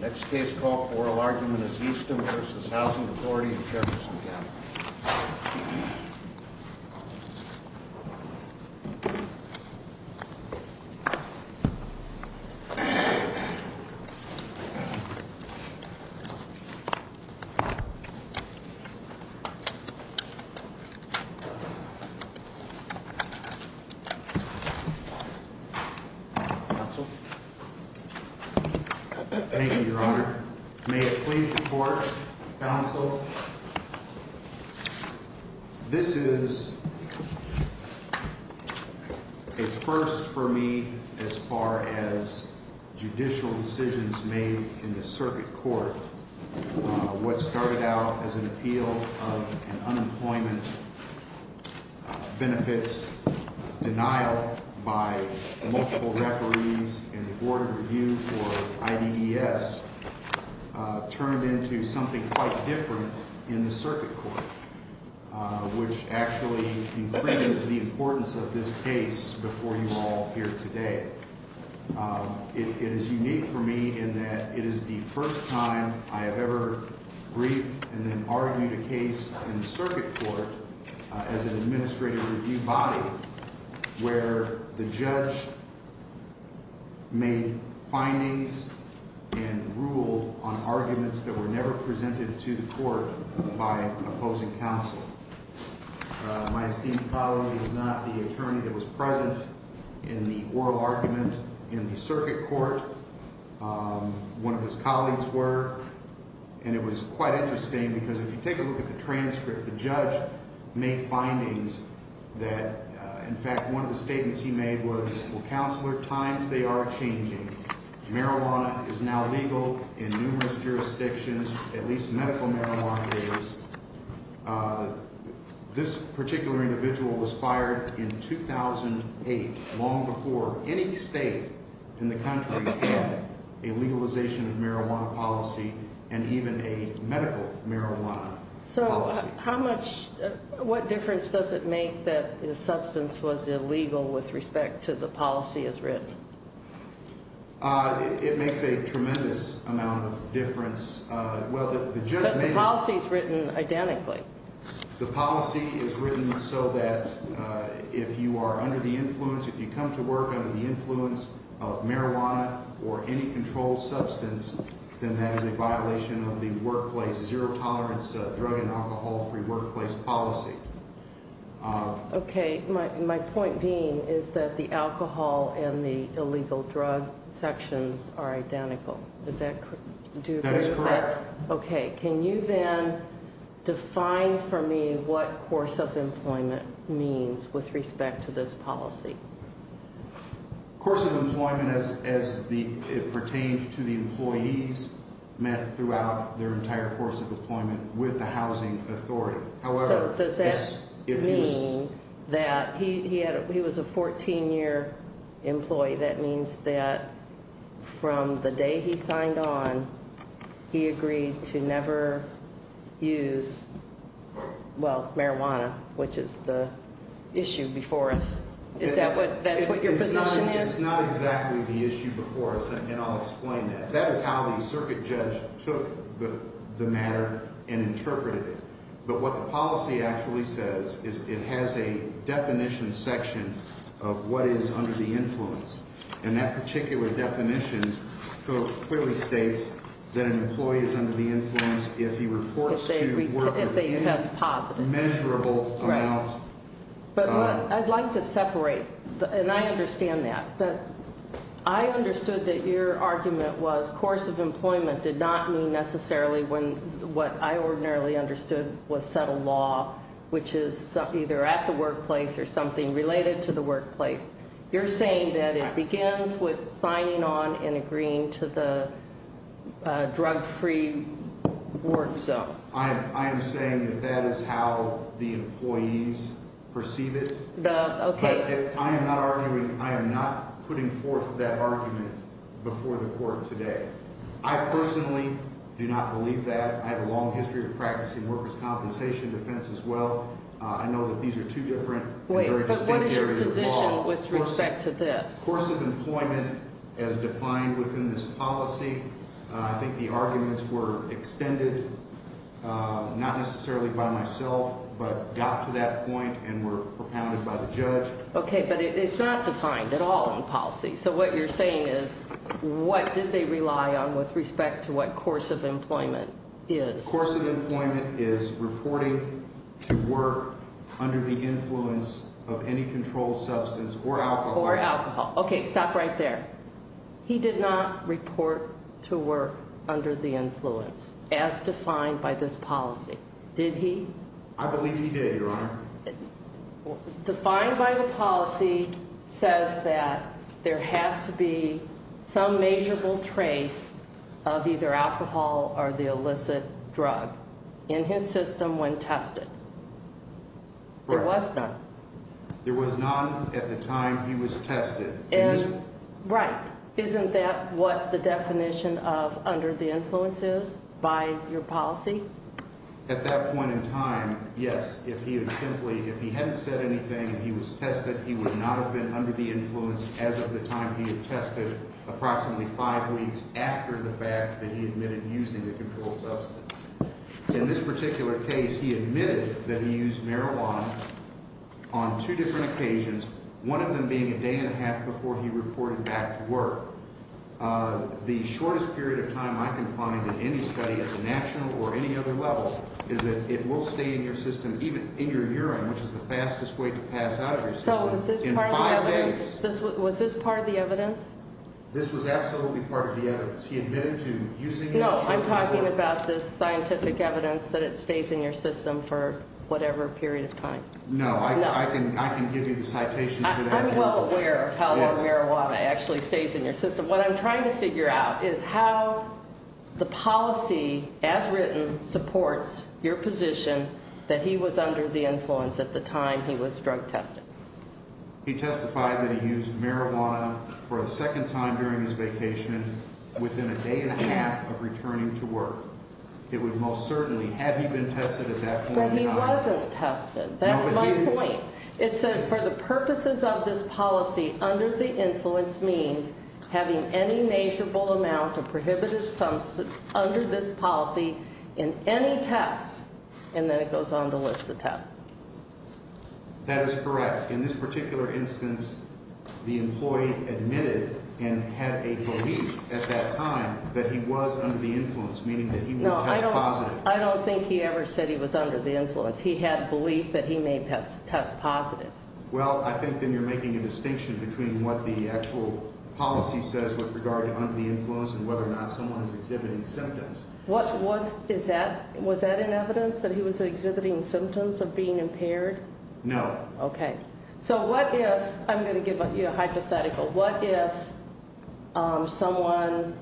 Next case call for oral argument is Eastham v. Housing Authority of Jefferson County. Thank you, Your Honor. May it please the court, counsel. This is a first for me as far as judicial decisions made in the circuit court. What started out as an appeal of an unemployment benefits denial by multiple referees in the Board of Review for IDES turned into something quite different in the circuit court, which actually increases the importance of this case before you all here today. It is unique for me in that it is the first time I have ever briefed and then argued a case in the circuit court as an administrative review body where the judge made findings and ruled on arguments that were never presented to the court by opposing counsel. My esteemed colleague is not the attorney that was present in the oral argument in the circuit court. One of his colleagues were, and it was quite interesting because if you take a look at the transcript, the judge made findings that, in fact, one of the statements he made was, times they are changing. Marijuana is now legal in numerous jurisdictions, at least medical marijuana is. This particular individual was fired in 2008, long before any state in the country had a legalization of marijuana policy and even a medical marijuana policy. What difference does it make that the substance was illegal with respect to the policy as written? It makes a tremendous amount of difference. Because the policy is written identically. The policy is written so that if you are under the influence, if you come to work under the influence of marijuana or any controlled substance, then that is a violation of the workplace zero tolerance drug and alcohol free workplace policy. Okay. My point being is that the alcohol and the illegal drug sections are identical. Is that correct? That is correct. Okay. Can you then define for me what course of employment means with respect to this policy? Course of employment as it pertains to the employees met throughout their entire course of employment with the housing authority. Does that mean that he was a 14-year employee? That means that from the day he signed on, he agreed to never use, well, marijuana, which is the issue before us. Is that what your position is? It's not exactly the issue before us, and I'll explain that. That is how the circuit judge took the matter and interpreted it. But what the policy actually says is it has a definition section of what is under the influence. And that particular definition clearly states that an employee is under the influence if he reports to work with any measurable amount. But I'd like to separate, and I understand that. I understood that your argument was course of employment did not mean necessarily what I ordinarily understood was settled law, which is either at the workplace or something related to the workplace. You're saying that it begins with signing on and agreeing to the drug-free work zone. I am saying that that is how the employees perceive it. Okay. But I am not arguing, I am not putting forth that argument before the court today. I personally do not believe that. I have a long history of practicing workers' compensation defense as well. I know that these are two different and very distinct areas of law. Wait, but what is your position with respect to this? Course of employment as defined within this policy, I think the arguments were extended, not necessarily by myself, but got to that point and were propounded by the judge. Okay, but it's not defined at all in policy. So what you're saying is what did they rely on with respect to what course of employment is? Course of employment is reporting to work under the influence of any controlled substance or alcohol. Or alcohol. Okay, stop right there. He did not report to work under the influence as defined by this policy, did he? I believe he did, Your Honor. Defined by the policy says that there has to be some measurable trace of either alcohol or the illicit drug in his system when tested. There was none. There was none at the time he was tested. Right. Isn't that what the definition of under the influence is by your policy? At that point in time, yes, if he had simply, if he hadn't said anything and he was tested, he would not have been under the influence as of the time he had tested, approximately five weeks after the fact that he admitted using the controlled substance. In this particular case, he admitted that he used marijuana on two different occasions, one of them being a day and a half before he reported back to work. The shortest period of time I can find in any study at the national or any other level is that it will stay in your system, even in your urine, which is the fastest way to pass out of your system, in five days. Was this part of the evidence? This was absolutely part of the evidence. He admitted to using it. No, I'm talking about the scientific evidence that it stays in your system for whatever period of time. No, I can give you the citations for that. I'm well aware of how long marijuana actually stays in your system. What I'm trying to figure out is how the policy, as written, supports your position that he was under the influence at the time he was drug tested. He testified that he used marijuana for the second time during his vacation within a day and a half of returning to work. It would most certainly, had he been tested at that point in time. But he wasn't tested. That's my point. It says, for the purposes of this policy, under the influence means having any measurable amount of prohibited substance under this policy in any test. And then it goes on to list the test. That is correct. In this particular instance, the employee admitted and had a belief at that time that he was under the influence, meaning that he would test positive. No, I don't think he ever said he was under the influence. He had a belief that he may test positive. Well, I think then you're making a distinction between what the actual policy says with regard to under the influence and whether or not someone is exhibiting symptoms. Was that in evidence, that he was exhibiting symptoms of being impaired? No. Okay. So what if, I'm going to give you a hypothetical, what if someone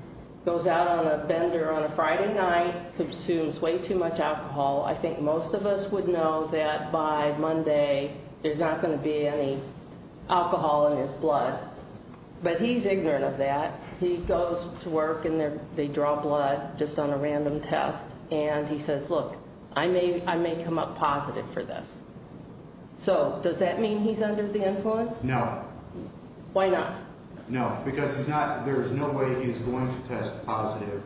goes out on a bender on a Friday night, consumes way too much alcohol. I think most of us would know that by Monday there's not going to be any alcohol in his blood. But he's ignorant of that. He goes to work and they draw blood just on a random test. And he says, look, I may come up positive for this. So does that mean he's under the influence? No. Why not? No, because there's no way he's going to test positive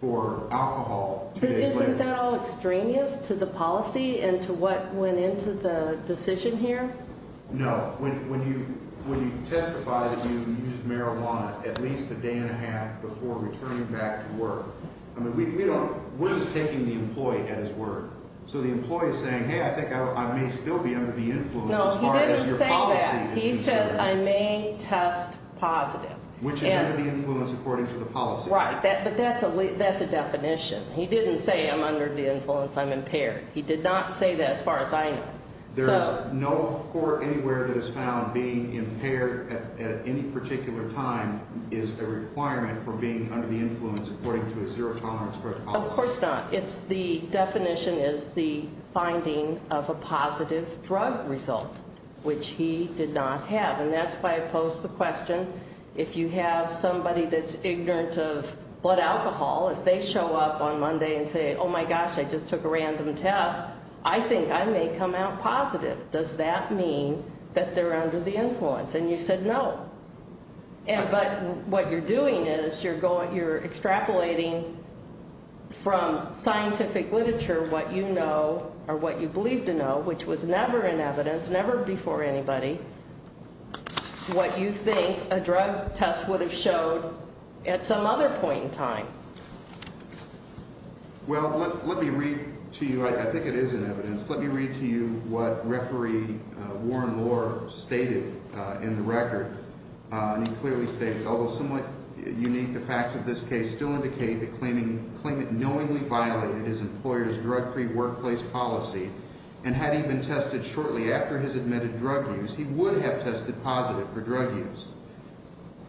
for alcohol two days later. Isn't that all extraneous to the policy and to what went into the decision here? No. When you testify that you used marijuana at least a day and a half before returning back to work, we're just taking the employee at his word. So the employee is saying, hey, I think I may still be under the influence as far as your policy is concerned. No, he didn't say that. He said, I may test positive. Which is under the influence according to the policy. Right. But that's a definition. He didn't say I'm under the influence, I'm impaired. He did not say that as far as I know. There is no court anywhere that has found being impaired at any particular time is a requirement for being under the influence according to a zero tolerance drug policy. Of course not. The definition is the finding of a positive drug result, which he did not have. And that's why I posed the question, if you have somebody that's ignorant of blood alcohol, if they show up on Monday and say, oh, my gosh, I just took a random test, I think I may come out positive. Does that mean that they're under the influence? And you said no. But what you're doing is you're extrapolating from scientific literature what you know or what you believe to know, which was never in evidence, never before anybody, what you think a drug test would have showed at some other point in time. Well, let me read to you, I think it is in evidence. Let me read to you what referee Warren Lohr stated in the record. And he clearly states, although somewhat unique, the facts of this case still indicate the claimant knowingly violated his employer's drug-free workplace policy. And had he been tested shortly after his admitted drug use, he would have tested positive for drug use.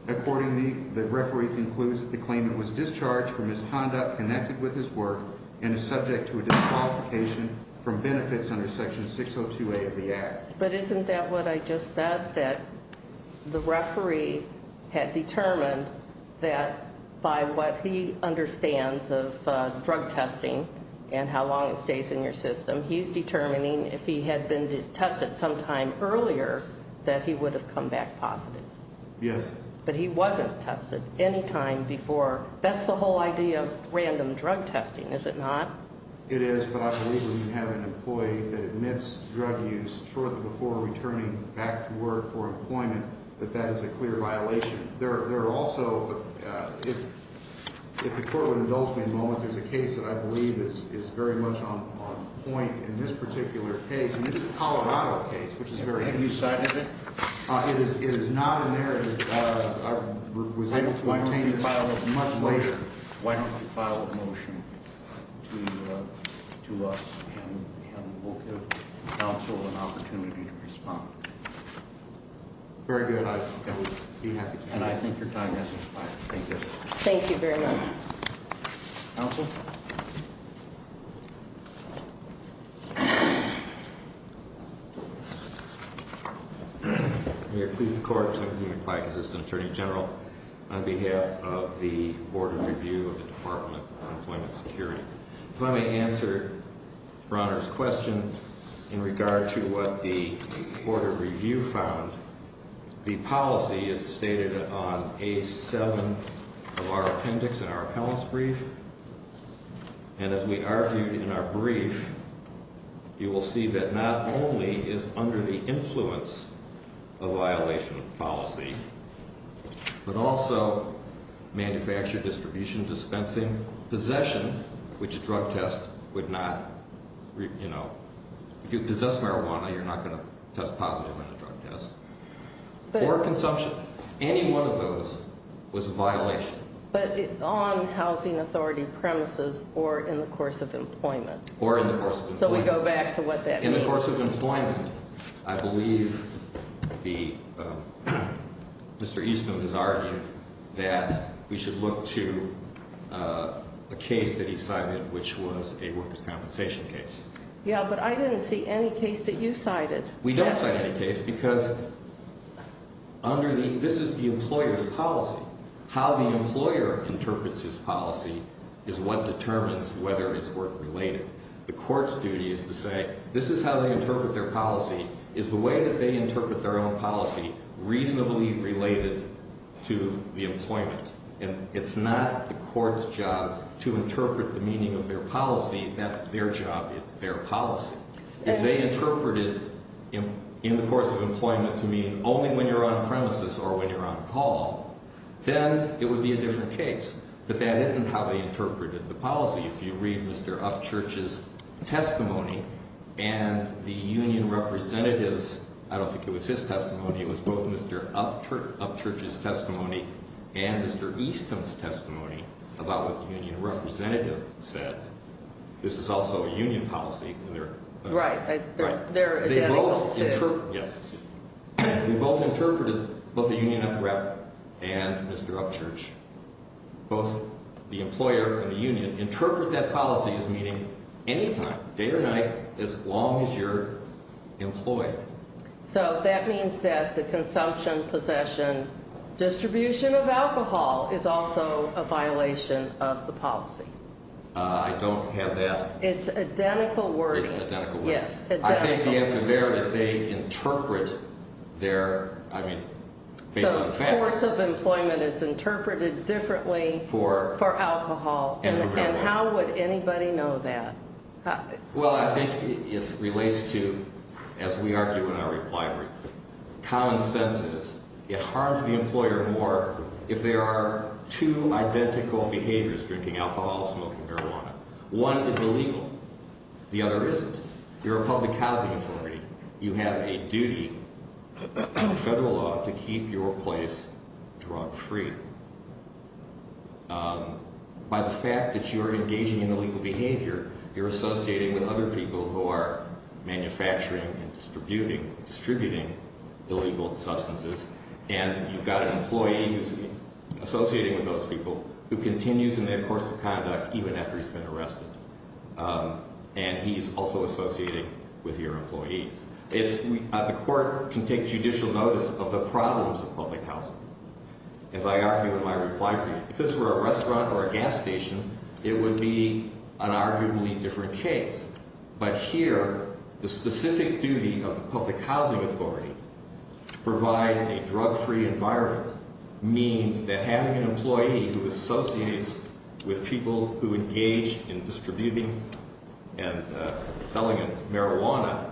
Accordingly, the referee concludes that the claimant was discharged for misconduct connected with his work and is subject to a disqualification from benefits under Section 602A of the Act. But isn't that what I just said, that the referee had determined that by what he understands of drug testing and how long it stays in your system, he's determining if he had been tested sometime earlier that he would have come back positive. Yes. But he wasn't tested any time before. That's the whole idea of random drug testing, is it not? It is, but I believe when you have an employee that admits drug use shortly before returning back to work for employment, that that is a clear violation. There are also, if the Court would indulge me a moment, there's a case that I believe is very much on point in this particular case, and it is a Colorado case, which is very interesting. Have you cited it? It is not in there. I was able to obtain this much later. Why don't you file a motion to us, and we'll give counsel an opportunity to respond. Very good. I would be happy to. And I think your time has expired. Thank you. Thank you very much. Counsel? May it please the Court, Timothy McPike, Assistant Attorney General, on behalf of the Board of Review of the Department of Employment Security. If I may answer Bronner's question in regard to what the Board of Review found, the policy is stated on A7 of our appendix in our appellant's brief. And as we argued in our brief, you will see that not only is under the influence a violation of policy, but also manufacture, distribution, dispensing, possession, which a drug test would not, you know, if you possess marijuana, you're not going to test positive on a drug test, or consumption. Any one of those was a violation. But on housing authority premises or in the course of employment. Or in the course of employment. So we go back to what that means. In the course of employment, I believe Mr. Eastman has argued that we should look to a case that he cited, which was a workers' compensation case. Yeah, but I didn't see any case that you cited. We don't cite any case because under the, this is the employer's policy. How the employer interprets his policy is what determines whether his work related. The court's duty is to say, this is how they interpret their policy, is the way that they interpret their own policy reasonably related to the employment. And it's not the court's job to interpret the meaning of their policy. That's their job. It's their policy. If they interpreted in the course of employment to mean only when you're on premises or when you're on call, then it would be a different case. But that isn't how they interpreted the policy. If you read Mr. Upchurch's testimony and the union representative's, I don't think it was his testimony, it was both Mr. Upchurch's testimony and Mr. Eastman's testimony about what the union representative said. This is also a union policy. Right. They're identical, too. Yes. We both interpreted, both the union rep and Mr. Upchurch, both the employer and the union, interpret that policy as meaning any time, day or night, as long as you're employed. So that means that the consumption, possession, distribution of alcohol is also a violation of the policy. I don't have that. It's identical wording. It's an identical wording. Yes. I think the answer there is they interpret their, I mean, based on the facts. So the course of employment is interpreted differently for alcohol. And how would anybody know that? Well, I think it relates to, as we argue in our reply brief, common sense is it harms the employer more if there are two identical behaviors, drinking alcohol, smoking marijuana. One is illegal. The other isn't. You're a public housing authority. You have a duty under federal law to keep your place drug free. By the fact that you're engaging in illegal behavior, you're associating with other people who are manufacturing and distributing illegal substances. And you've got an employee who's associating with those people who continues in that course of conduct even after he's been arrested. And he's also associating with your employees. The court can take judicial notice of the problems of public housing. As I argue in my reply brief, if this were a restaurant or a gas station, it would be an arguably different case. But here, the specific duty of a public housing authority to provide a drug free environment means that having an employee who associates with people who engage in distributing and selling marijuana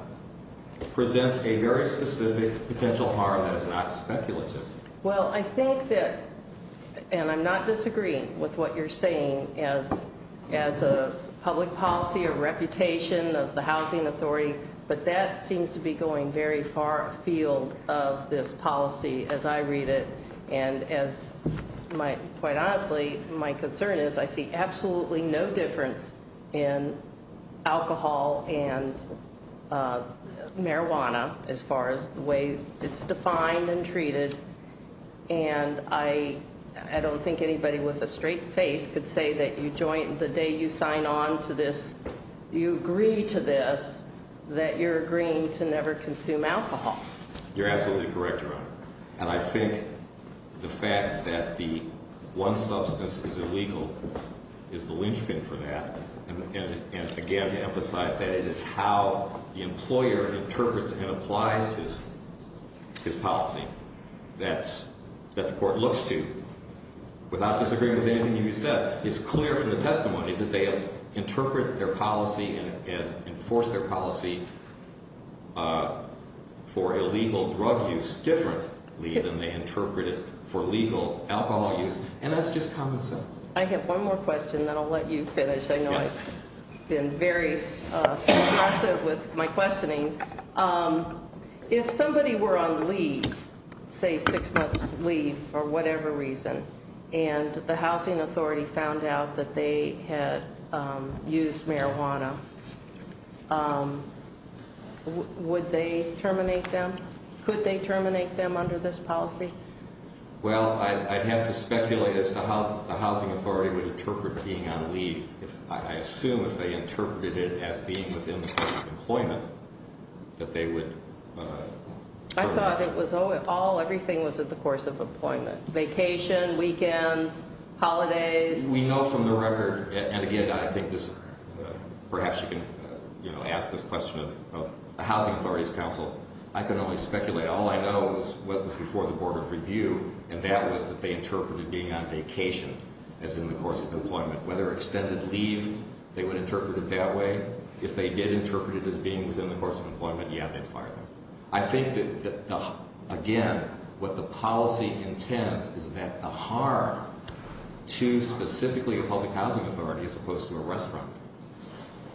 presents a very specific potential harm that is not speculative. Well, I think that, and I'm not disagreeing with what you're saying as a public policy or reputation of the housing authority. But that seems to be going very far afield of this policy as I read it. And quite honestly, my concern is I see absolutely no difference in alcohol and marijuana as far as the way it's defined and treated. And I don't think anybody with a straight face could say that the day you sign on to this, you agree to this, that you're agreeing to never consume alcohol. You're absolutely correct, Your Honor. And I think the fact that the one substance is illegal is the linchpin for that. And again, to emphasize that it is how the employer interprets and applies his policy that the court looks to. Without disagreeing with anything you said, it's clear from the testimony that they interpret their policy and enforce their policy for illegal drug use differently than they interpret it for legal alcohol use. And that's just common sense. I have one more question, then I'll let you finish. I know I've been very succinct with my questioning. If somebody were on leave, say six months leave for whatever reason, and the housing authority found out that they had used marijuana, would they terminate them? Could they terminate them under this policy? Well, I'd have to speculate as to how the housing authority would interpret being on leave. I assume if they interpreted it as being within the course of employment, that they would terminate them. I thought everything was in the course of employment. Vacation, weekends, holidays. We know from the record, and again, I think perhaps you can ask this question of a housing authority's counsel. I can only speculate. All I know is what was before the Board of Review, and that was that they interpreted being on vacation as in the course of employment. Whether extended leave, they would interpret it that way. If they did interpret it as being within the course of employment, yeah, they'd fire them. I think that, again, what the policy intends is that the harm to specifically a public housing authority as opposed to a restaurant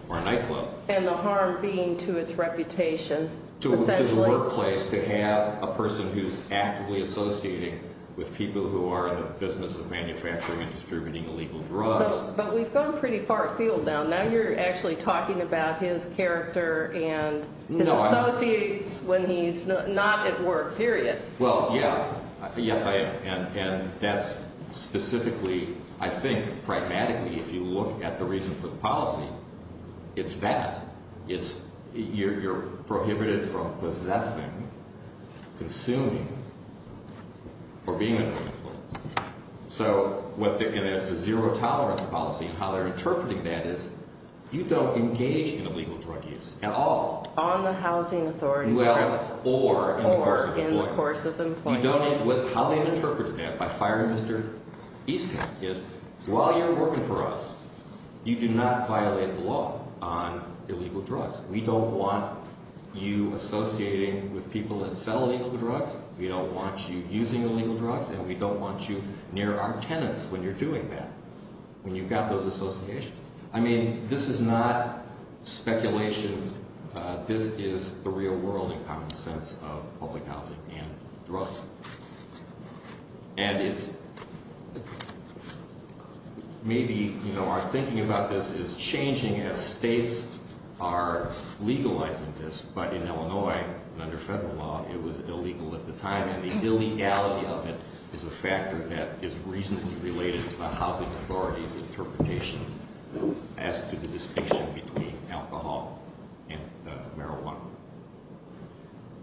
or a nightclub. And the harm being to its reputation. To the workplace, to have a person who's actively associating with people who are in the business of manufacturing and distributing illegal drugs. But we've gone pretty far afield now. Now you're actually talking about his character and his associates when he's not at work, period. Well, yeah. Yes, I am. And that's specifically, I think, pragmatically, if you look at the reason for the policy, it's that. You're prohibited from possessing, consuming, or being under influence. And it's a zero tolerance policy. And how they're interpreting that is you don't engage in illegal drug use at all. On the housing authority premises. Or in the course of employment. Or in the course of employment. How they've interpreted that by firing Mr. Easton is while you're working for us, you do not violate the law on illegal drugs. We don't want you associating with people that sell illegal drugs. We don't want you using illegal drugs. And we don't want you near our tenants when you're doing that. When you've got those associations. I mean, this is not speculation. This is the real world in common sense of public housing and drugs. And it's maybe, you know, our thinking about this is changing as states are legalizing this. But in Illinois, under federal law, it was illegal at the time. And the illegality of it is a factor that is reasonably related to the housing authority's interpretation as to the distinction between alcohol and marijuana.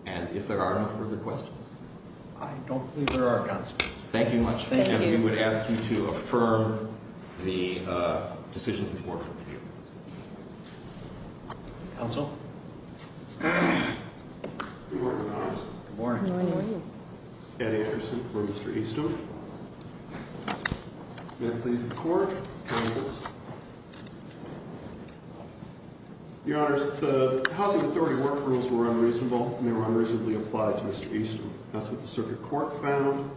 And if there are no further questions. I don't think there are, counsel. Thank you much. And we would ask you to affirm the decision of the board. Counsel. Good morning, Your Honors. Good morning. Good morning. Ed Anderson for Mr. Easton. May I please have the floor? Counsels. Your Honors, the housing authority work rules were unreasonable. And they were unreasonably applied to Mr. Easton. That's what the circuit court found.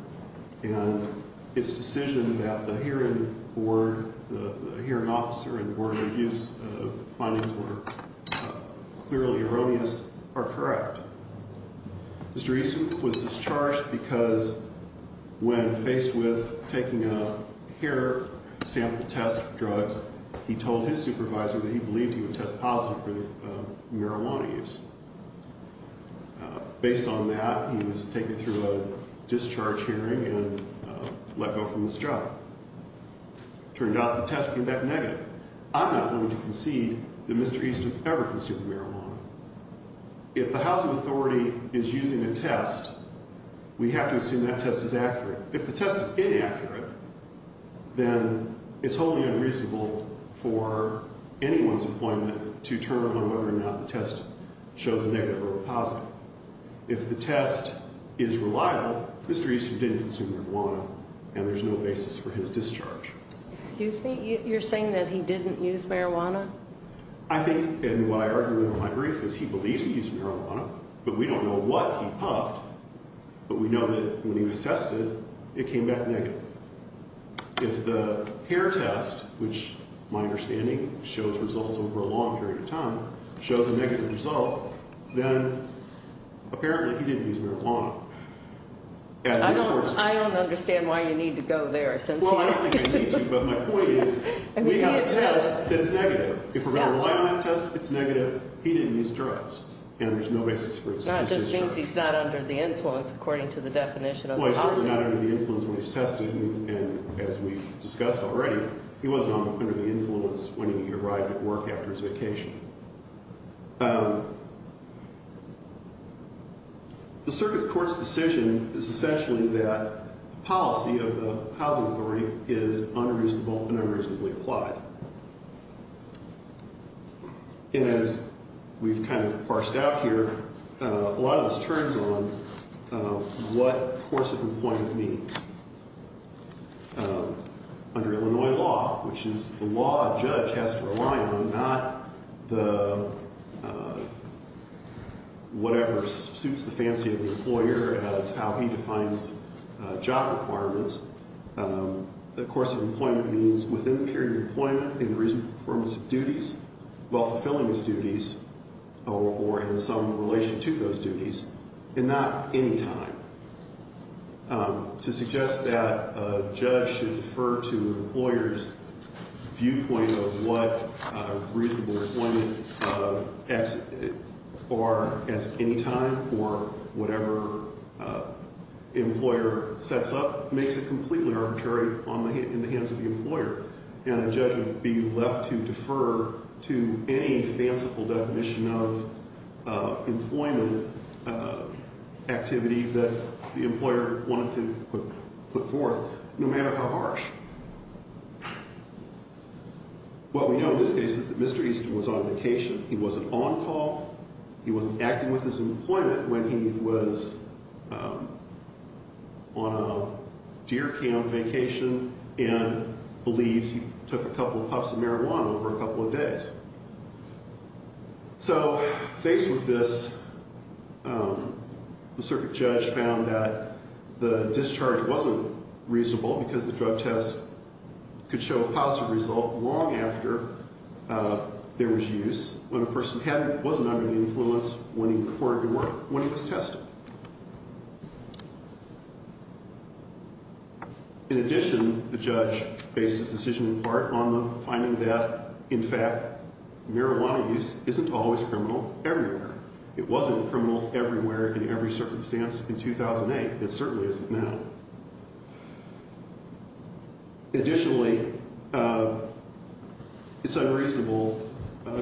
And its decision that the hearing board, the hearing officer and the board of abuse findings were clearly erroneous are correct. Mr. Easton was discharged because when faced with taking a hair sample test drugs, he told his supervisor that he believed he would test positive for marijuana use. Based on that, he was taken through a discharge hearing and let go from his job. Turned out the test came back negative. I'm not going to concede that Mr. Easton ever consumed marijuana. If the housing authority is using a test, we have to assume that test is accurate. If the test is inaccurate, then it's wholly unreasonable for anyone's appointment to turn on whether or not the test shows a negative or a positive. If the test is reliable, Mr. Easton didn't consume marijuana and there's no basis for his discharge. Excuse me? You're saying that he didn't use marijuana? I think and what I argue in my brief is he believes he used marijuana, but we don't know what he puffed. But we know that when he was tested, it came back negative. If the hair test, which my understanding shows results over a long period of time, shows a negative result, then apparently he didn't use marijuana. I don't understand why you need to go there. Well, I don't think I need to, but my point is we have a test that's negative. If we're going to rely on that test, it's negative. He didn't use drugs and there's no basis for his discharge. Not just because he's not under the influence according to the definition of the policy. Well, he's certainly not under the influence when he's tested and as we discussed already, he wasn't under the influence when he arrived at work after his vacation. The circuit court's decision is essentially that the policy of the housing authority is unreasonable and unreasonably applied. And as we've kind of parsed out here, a lot of this turns on what course of employment means. Under Illinois law, which is the law a judge has to rely on, not the whatever suits the fancy of the employer as how he defines job requirements. The course of employment means within the period of employment, in reasonable performance of duties, while fulfilling his duties or in some relation to those duties, and not any time. To suggest that a judge should defer to an employer's viewpoint of what reasonable employment as any time or whatever employer sets up makes it completely arbitrary in the hands of the employer. And a judge would be left to defer to any fanciful definition of employment activity that the employer wanted to put forth, no matter how harsh. What we know in this case is that Mr. Easton was on vacation. He wasn't on call. He wasn't acting with his employment when he was on a deer cam vacation and believes he took a couple puffs of marijuana over a couple of days. So faced with this, the circuit judge found that the discharge wasn't reasonable because the drug test could show a positive result long after there was use when a person wasn't under the influence when he reported to work when he was tested. In addition, the judge based his decision in part on the finding that, in fact, marijuana use isn't always criminal everywhere. It wasn't criminal everywhere in every circumstance in 2008. It certainly isn't now. Additionally, it's unreasonable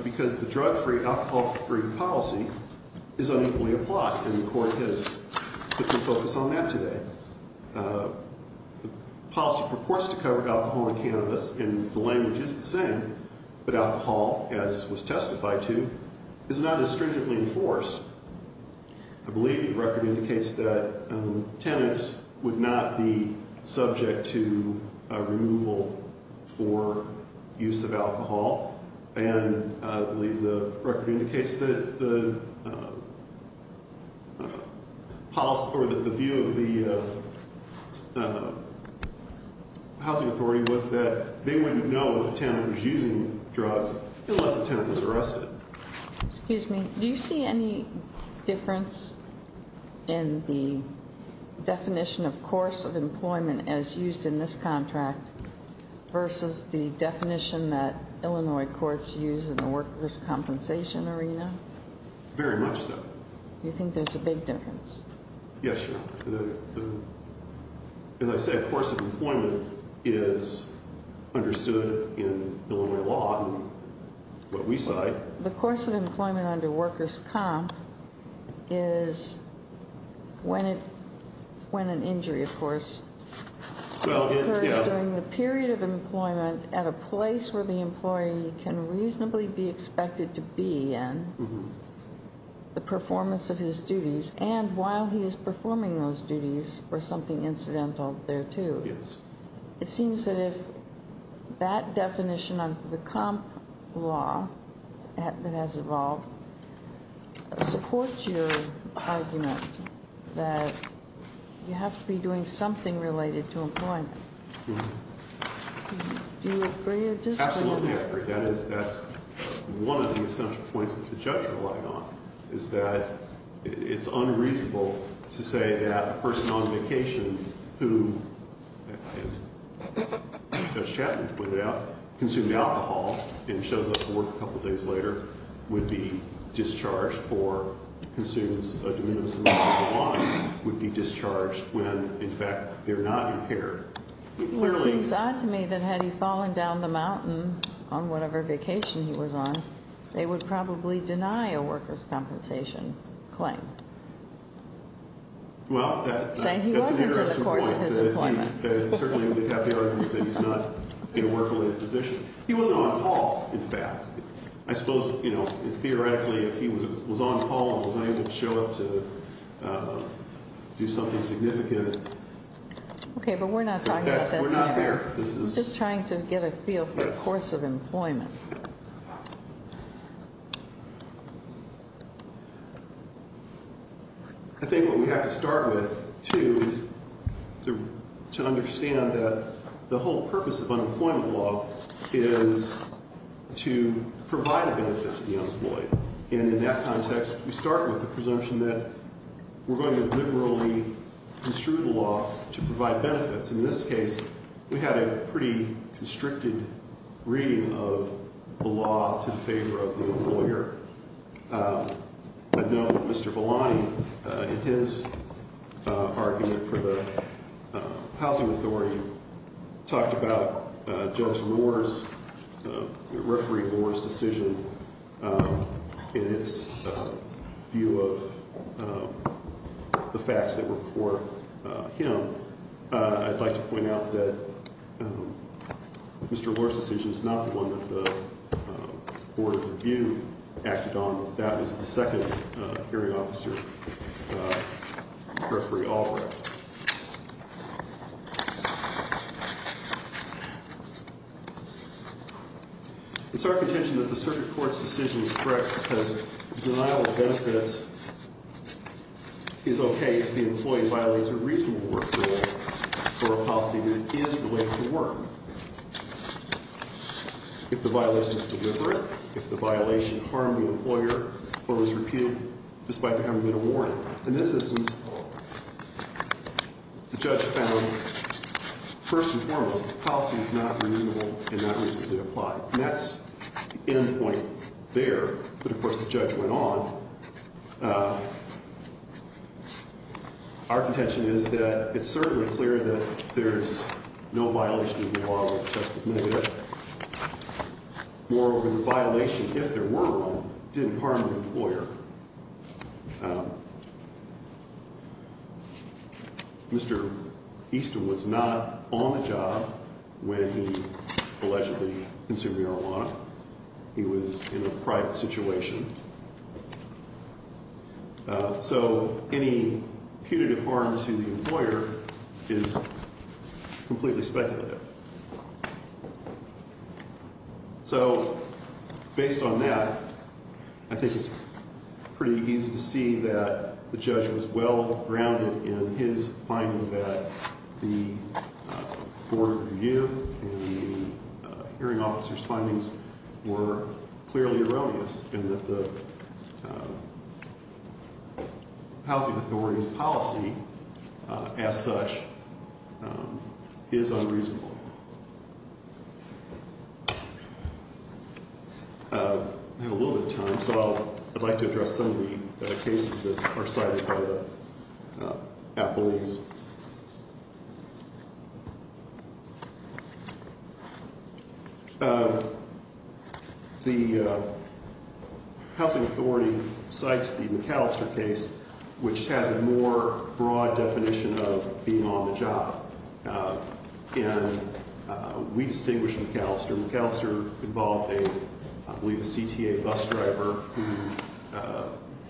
because the drug-free, alcohol-free policy is unequally applied, and the court has put some focus on that today. The policy purports to cover alcohol and cannabis, and the language is the same, but alcohol, as was testified to, is not as stringently enforced. I believe the record indicates that tenants would not be subject to removal for use of alcohol, and I believe the record indicates that the view of the housing authority was that they wouldn't know if a tenant was using drugs unless the tenant was arrested. Excuse me. Do you see any difference in the definition of course of employment as used in this contract versus the definition that Illinois courts use in the workers' compensation arena? Very much so. You think there's a big difference? Yes, Your Honor. As I said, course of employment is understood in Illinois law and what we cite. The course of employment under workers' comp is when an injury, of course, occurs during the period of employment at a place where the employee can reasonably be expected to be in, the performance of his duties, and while he is performing those duties for something incidental thereto. It seems that if that definition of the comp law that has evolved supports your argument that you have to be doing something related to employment, do you agree or disagree? Absolutely agree. That's one of the essential points that the judge relied on, is that it's unreasonable to say that a person on vacation who, as Judge Chapman pointed out, consumed alcohol and shows up to work a couple days later would be discharged or consumes a de minimis amount of marijuana, would be discharged when in fact they're not impaired. Well, it seems odd to me that had he fallen down the mountain on whatever vacation he was on, they would probably deny a workers' compensation claim. Well, that's an interesting point. Saying he wasn't in the course of his employment. He certainly would have the argument that he's not in a work-related position. He was on call, in fact. I suppose, you know, theoretically, if he was on call and was unable to show up to do something significant. Okay, but we're not talking about that. We're not there. I'm just trying to get a feel for the course of employment. I think what we have to start with, too, is to understand that the whole purpose of unemployment law is to provide a benefit to the unemployed. And in that context, we start with the presumption that we're going to liberally construe the law to provide benefits. In this case, we had a pretty constricted reading of the law to the favor of the employer. I know that Mr. Belani, in his argument for the housing authority, talked about Judge Lohr's, Referee Lohr's decision in its view of the facts that were before him. I'd like to point out that Mr. Lohr's decision is not the one that the Board of Review acted on. That was the second hearing officer, Referee Albright. It's our contention that the circuit court's decision is correct because denial of benefits is okay if the employee violates a reasonable work rule or a policy that is related to work. If the violation is deliberate, if the violation harmed the employer or was repealed despite there having been a warrant. In this instance, the judge found, first and foremost, the policy is not reasonable and not reasonably applied. And that's the end point there. But, of course, the judge went on. Our contention is that it's certainly clear that there's no violation of the law where the test was negative. Moreover, the violation, if there were one, didn't harm the employer. Mr. Easton was not on the job when he allegedly consumed marijuana. He was in a private situation. So any punitive harm to the employer is completely speculative. So based on that, I think it's pretty easy to see that the judge was well-grounded in his finding that the Board of Review and the hearing officer's findings were clearly erroneous. And that the housing authority's policy, as such, is unreasonable. I have a little bit of time, so I'd like to address some of the cases that are cited by the appellees. The housing authority cites the McAllister case, which has a more broad definition of being on the job. And we distinguish McAllister. McAllister involved a, I believe, a CTA bus driver who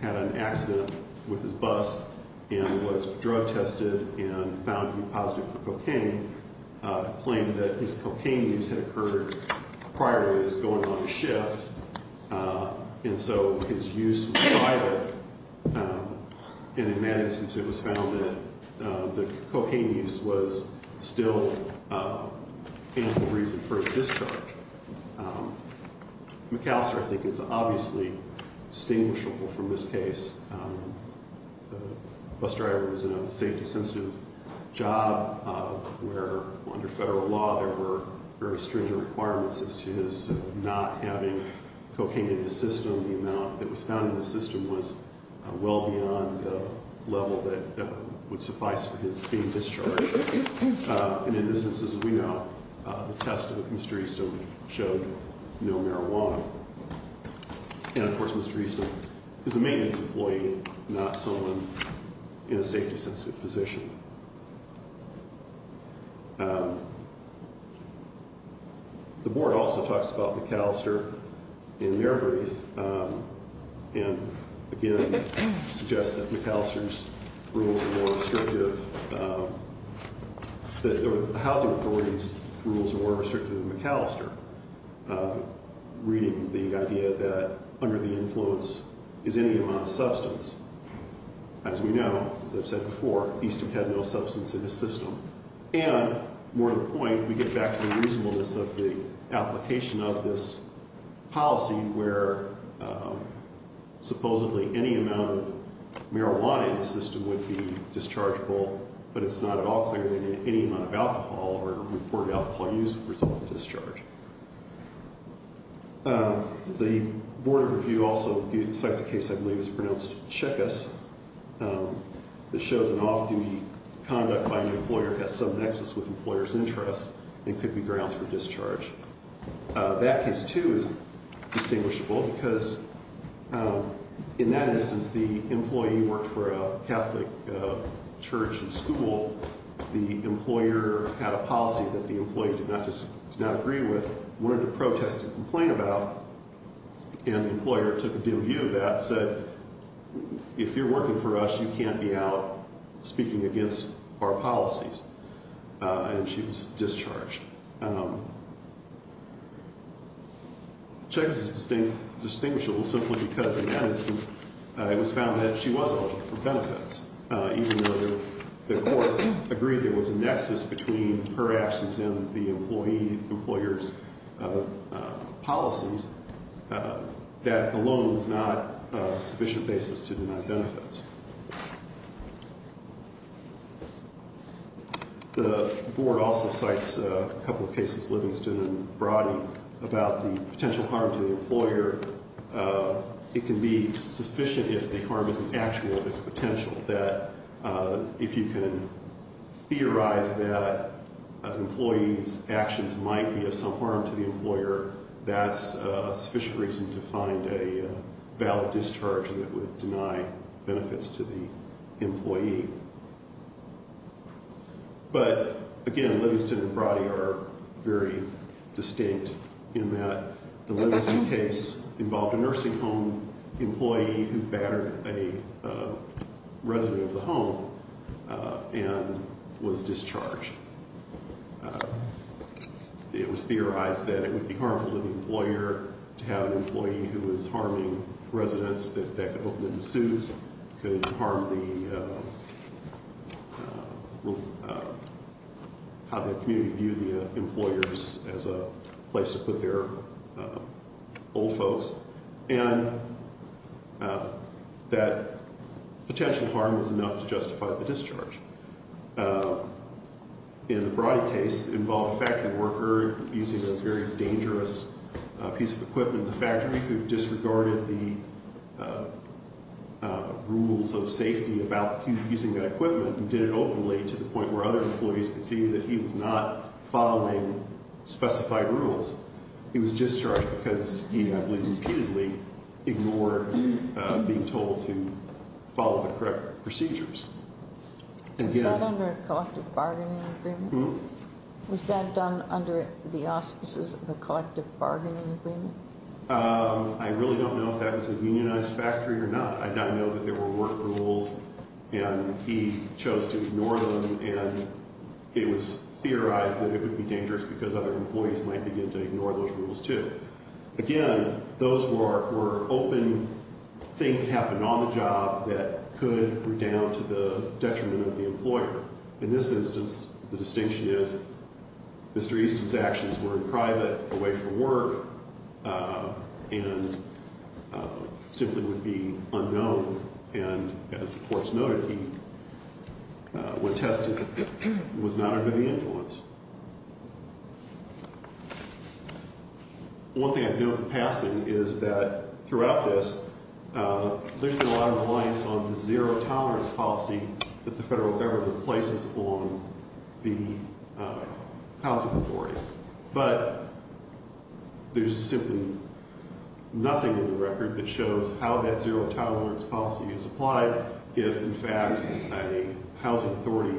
had an accident with his bus and was drug tested. And found to be positive for cocaine. Claimed that his cocaine use had occurred prior to his going on the shift. And so his use was vital. And in that instance, it was found that the cocaine use was still a reasonable reason for his discharge. McAllister, I think, is obviously distinguishable from this case. The bus driver was in a safety-sensitive job where, under federal law, there were very stringent requirements as to his not having cocaine in the system. The amount that was found in the system was well beyond the level that would suffice for his being discharged. And in this instance, as we know, the test of Mr. Easton showed no marijuana. And, of course, Mr. Easton is a maintenance employee, not someone in a safety-sensitive position. The board also talks about McAllister in their brief. And, again, suggests that McAllister's rules are more restrictive. The housing authority's rules are more restrictive than McAllister. Reading the idea that under the influence is any amount of substance. As we know, as I've said before, Easton had no substance in his system. And, more to the point, we get back to the reasonableness of the application of this policy where supposedly any amount of marijuana in the system would be dischargeable, but it's not at all clear that any amount of alcohol or reported alcohol use would result in discharge. The Board of Review also selects a case I believe is pronounced Checkas, that shows an off-duty conduct by an employer has some nexus with an employer's interest and could be grounds for discharge. That case, too, is distinguishable because, in that instance, since the employee worked for a Catholic church and school, the employer had a policy that the employee did not agree with, wanted to protest and complain about, and the employer took a dim view of that and said, if you're working for us, you can't be out speaking against our policies. And she was discharged. Checkas is distinguishable simply because, in that instance, it was found that she was open for benefits, even though the court agreed there was a nexus between her actions and the employee, the employer's policies, that alone is not a sufficient basis to deny benefits. The Board also cites a couple of cases, Livingston and Broddy, about the potential harm to the employer. It can be sufficient if the harm is an actual of its potential, that if you can theorize that an employee's actions might be of some harm to the employer, that's a sufficient reason to find a valid discharge that would deny benefits. to the employee. But, again, Livingston and Broddy are very distinct in that the Livingston case involved a nursing home employee who battered a resident of the home and was discharged. It was theorized that it would be harmful to the employer to have an employee who was harming residents, that that could open into suits, could harm the, how the community viewed the employers as a place to put their old folks, and that potential harm was enough to justify the discharge. In the Broddy case, it involved a factory worker using a very dangerous piece of equipment in the factory who disregarded the rules of safety about using that equipment and did it openly to the point where other employees could see that he was not following specified rules. He was discharged because he, I believe, repeatedly ignored being told to follow the correct procedures. Was that under a collective bargaining agreement? Was that done under the auspices of a collective bargaining agreement? I really don't know if that was a unionized factory or not. I know that there were work rules, and he chose to ignore them, and it was theorized that it would be dangerous because other employees might begin to ignore those rules, too. Again, those were open things that happened on the job that could redound to the detriment of the employer. In this instance, the distinction is Mr. Easton's actions were in private, away from work, and simply would be unknown, and as the courts noted, he, when tested, was not under the influence. One thing I've noted in passing is that throughout this, there's been a lot of reliance on the zero tolerance policy that the federal government places on the housing authority. But there's simply nothing in the record that shows how that zero tolerance policy is applied if, in fact, a housing authority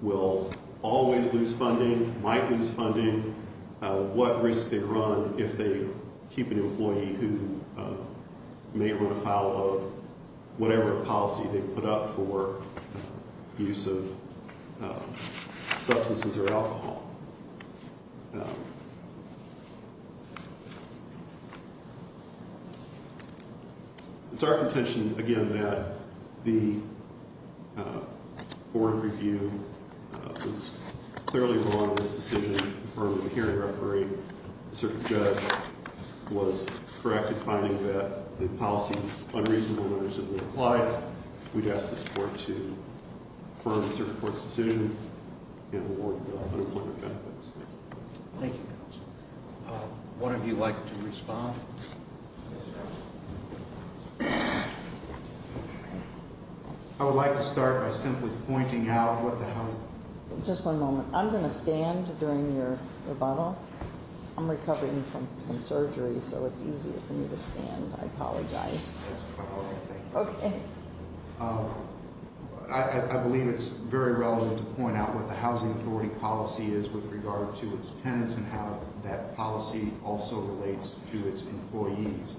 will always lose funding, might lose funding, what risk they run if they keep an employee who may run afoul of whatever policy they put up for use of substances or alcohol. It's our contention, again, that the board review was clearly wrong in this decision. The firm of the hearing referee, the circuit judge, was correct in finding that the policy was unreasonable and unacceptably applied. We'd ask the support to affirm the circuit court's decision and award the unemployment benefits. Thank you. What would you like to respond? I would like to start by simply pointing out what the housing- Just one moment. I'm going to stand during your rebuttal. I'm recovering from some surgery, so it's easier for me to stand. I apologize. That's quite all right. Thank you. I believe it's very relevant to point out what the housing authority policy is with regard to its tenants and how that policy also relates to its employees.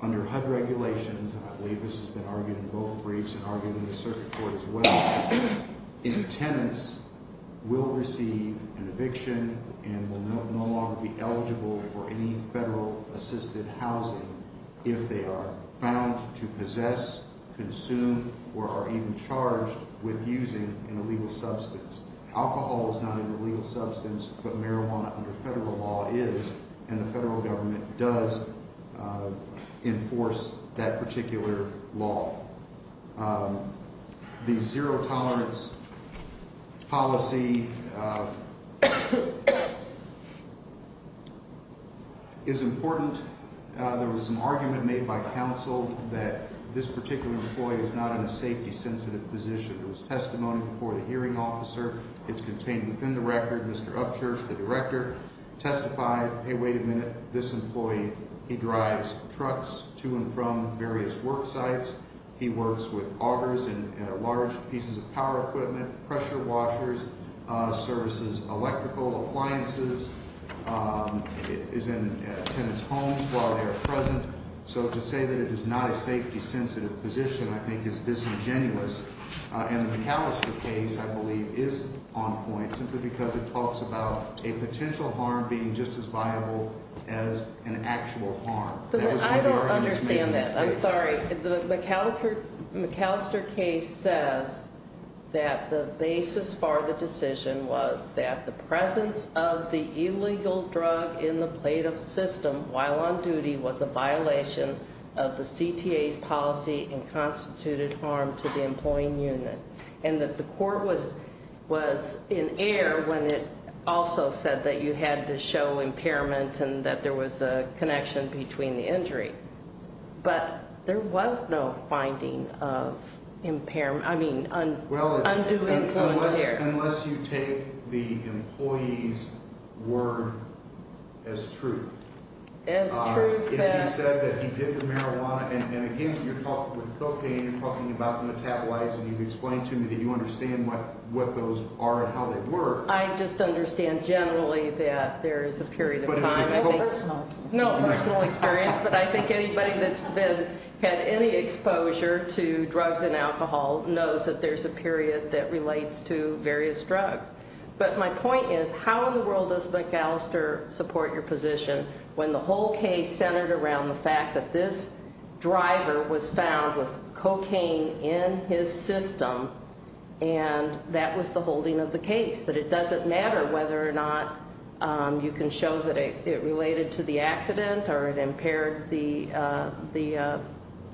Under HUD regulations, and I believe this has been argued in both briefs and argued in the circuit court as well, tenants will receive an eviction and will no longer be eligible for any federal-assisted housing if they are found to possess, consume, or are even charged with using an illegal substance. Alcohol is not an illegal substance, but marijuana under federal law is, and the federal government does enforce that particular law. The zero-tolerance policy is important. There was some argument made by counsel that this particular employee is not in a safety-sensitive position. There was testimony before the hearing officer. It's contained within the record. The director testified, hey, wait a minute, this employee, he drives trucks to and from various work sites. He works with augers and large pieces of power equipment, pressure washers, services electrical appliances, is in a tenant's home while they are present. So to say that it is not a safety-sensitive position, I think, is disingenuous. And the McAllister case, I believe, is on point simply because it talks about a potential harm being just as viable as an actual harm. That was one of the arguments made in the case. I don't understand that. I'm sorry. The McAllister case says that the basis for the decision was that the presence of the illegal drug in the plaintiff's system while on duty was a violation of the CTA's policy and constituted harm to the employee unit. And that the court was in error when it also said that you had to show impairment and that there was a connection between the injury. But there was no finding of impairment, I mean, undue influence there. Unless you take the employee's word as truth. As truth. If he said that he did the marijuana, and again, you're talking with cocaine, you're talking about metabolites, and you've explained to me that you understand what those are and how they work. I just understand generally that there is a period of time. No personal experience. No personal experience, but I think anybody that's had any exposure to drugs and alcohol knows that there's a period that relates to various drugs. But my point is, how in the world does McAllister support your position when the whole case centered around the fact that this driver was found with cocaine in his system and that was the holding of the case? That it doesn't matter whether or not you can show that it related to the accident or it impaired the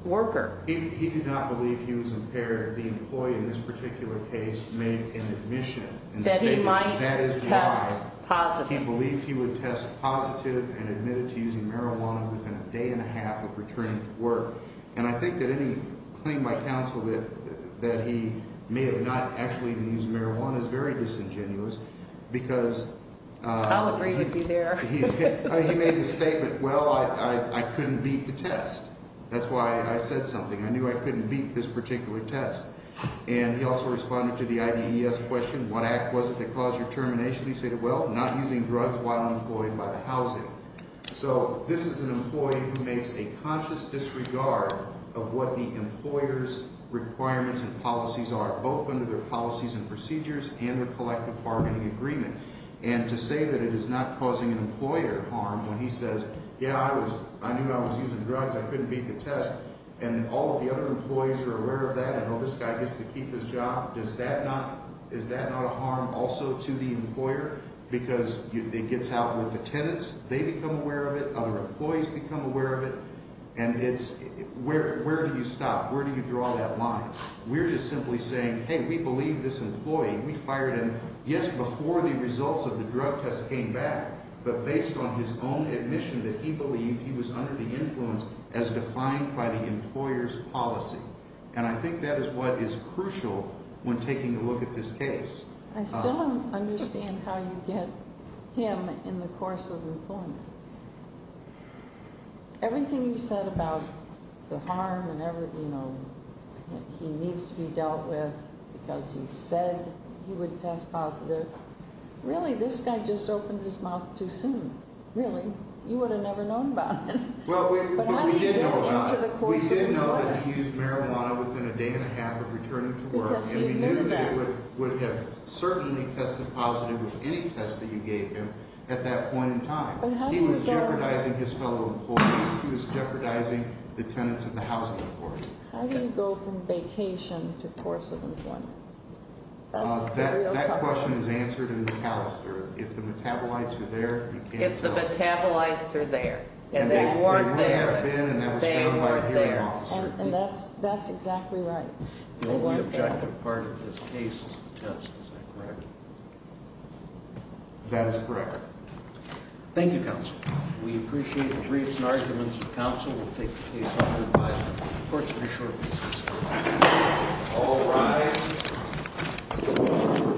worker. He did not believe he was impaired. The employee in this particular case made an admission and stated that is why. That he might test positive. He believed he would test positive and admitted to using marijuana within a day and a half of returning to work. And I think that any claim by counsel that he may have not actually been using marijuana is very disingenuous because- I'll agree with you there. He made the statement, well, I couldn't beat the test. That's why I said something. I knew I couldn't beat this particular test. And he also responded to the IDES question, what act was it that caused your termination? He stated, well, not using drugs while employed by the housing. So this is an employee who makes a conscious disregard of what the employer's requirements and policies are, both under their policies and procedures and their collective bargaining agreement. And to say that it is not causing an employer harm when he says, yeah, I knew I was using drugs. I couldn't beat the test. And all of the other employees are aware of that and, oh, this guy gets to keep his job. Does that not-is that not a harm also to the employer? Because it gets out with the tenants. They become aware of it. Other employees become aware of it. And it's-where do you stop? Where do you draw that line? We're just simply saying, hey, we believe this employee. We fired him just before the results of the drug test came back, but based on his own admission that he believed he was under the influence as defined by the employer's policy. And I think that is what is crucial when taking a look at this case. I still don't understand how you get him in the course of employment. Everything you said about the harm and everything, you know, he needs to be dealt with because he said he would test positive. Really, this guy just opened his mouth too soon. Really. You would have never known about it. Well, we didn't know about it. We didn't know that he used marijuana within a day and a half of returning to work. And we knew that he would have certainly tested positive with any test that you gave him at that point in time. He was jeopardizing his fellow employees. He was jeopardizing the tenants of the housing authority. How do you go from vacation to course of employment? That's the real question. That question is answered in the Callister. If the metabolites are there, you can't tell. If the metabolites are there. And they weren't there. They may have been, and that was found by the hearing officer. And that's exactly right. The only objective part of this case is the test. Is that correct? That is correct. Thank you, counsel. We appreciate the briefs and arguments of counsel. We'll take the case up for advisement. The court is adjourned. All rise.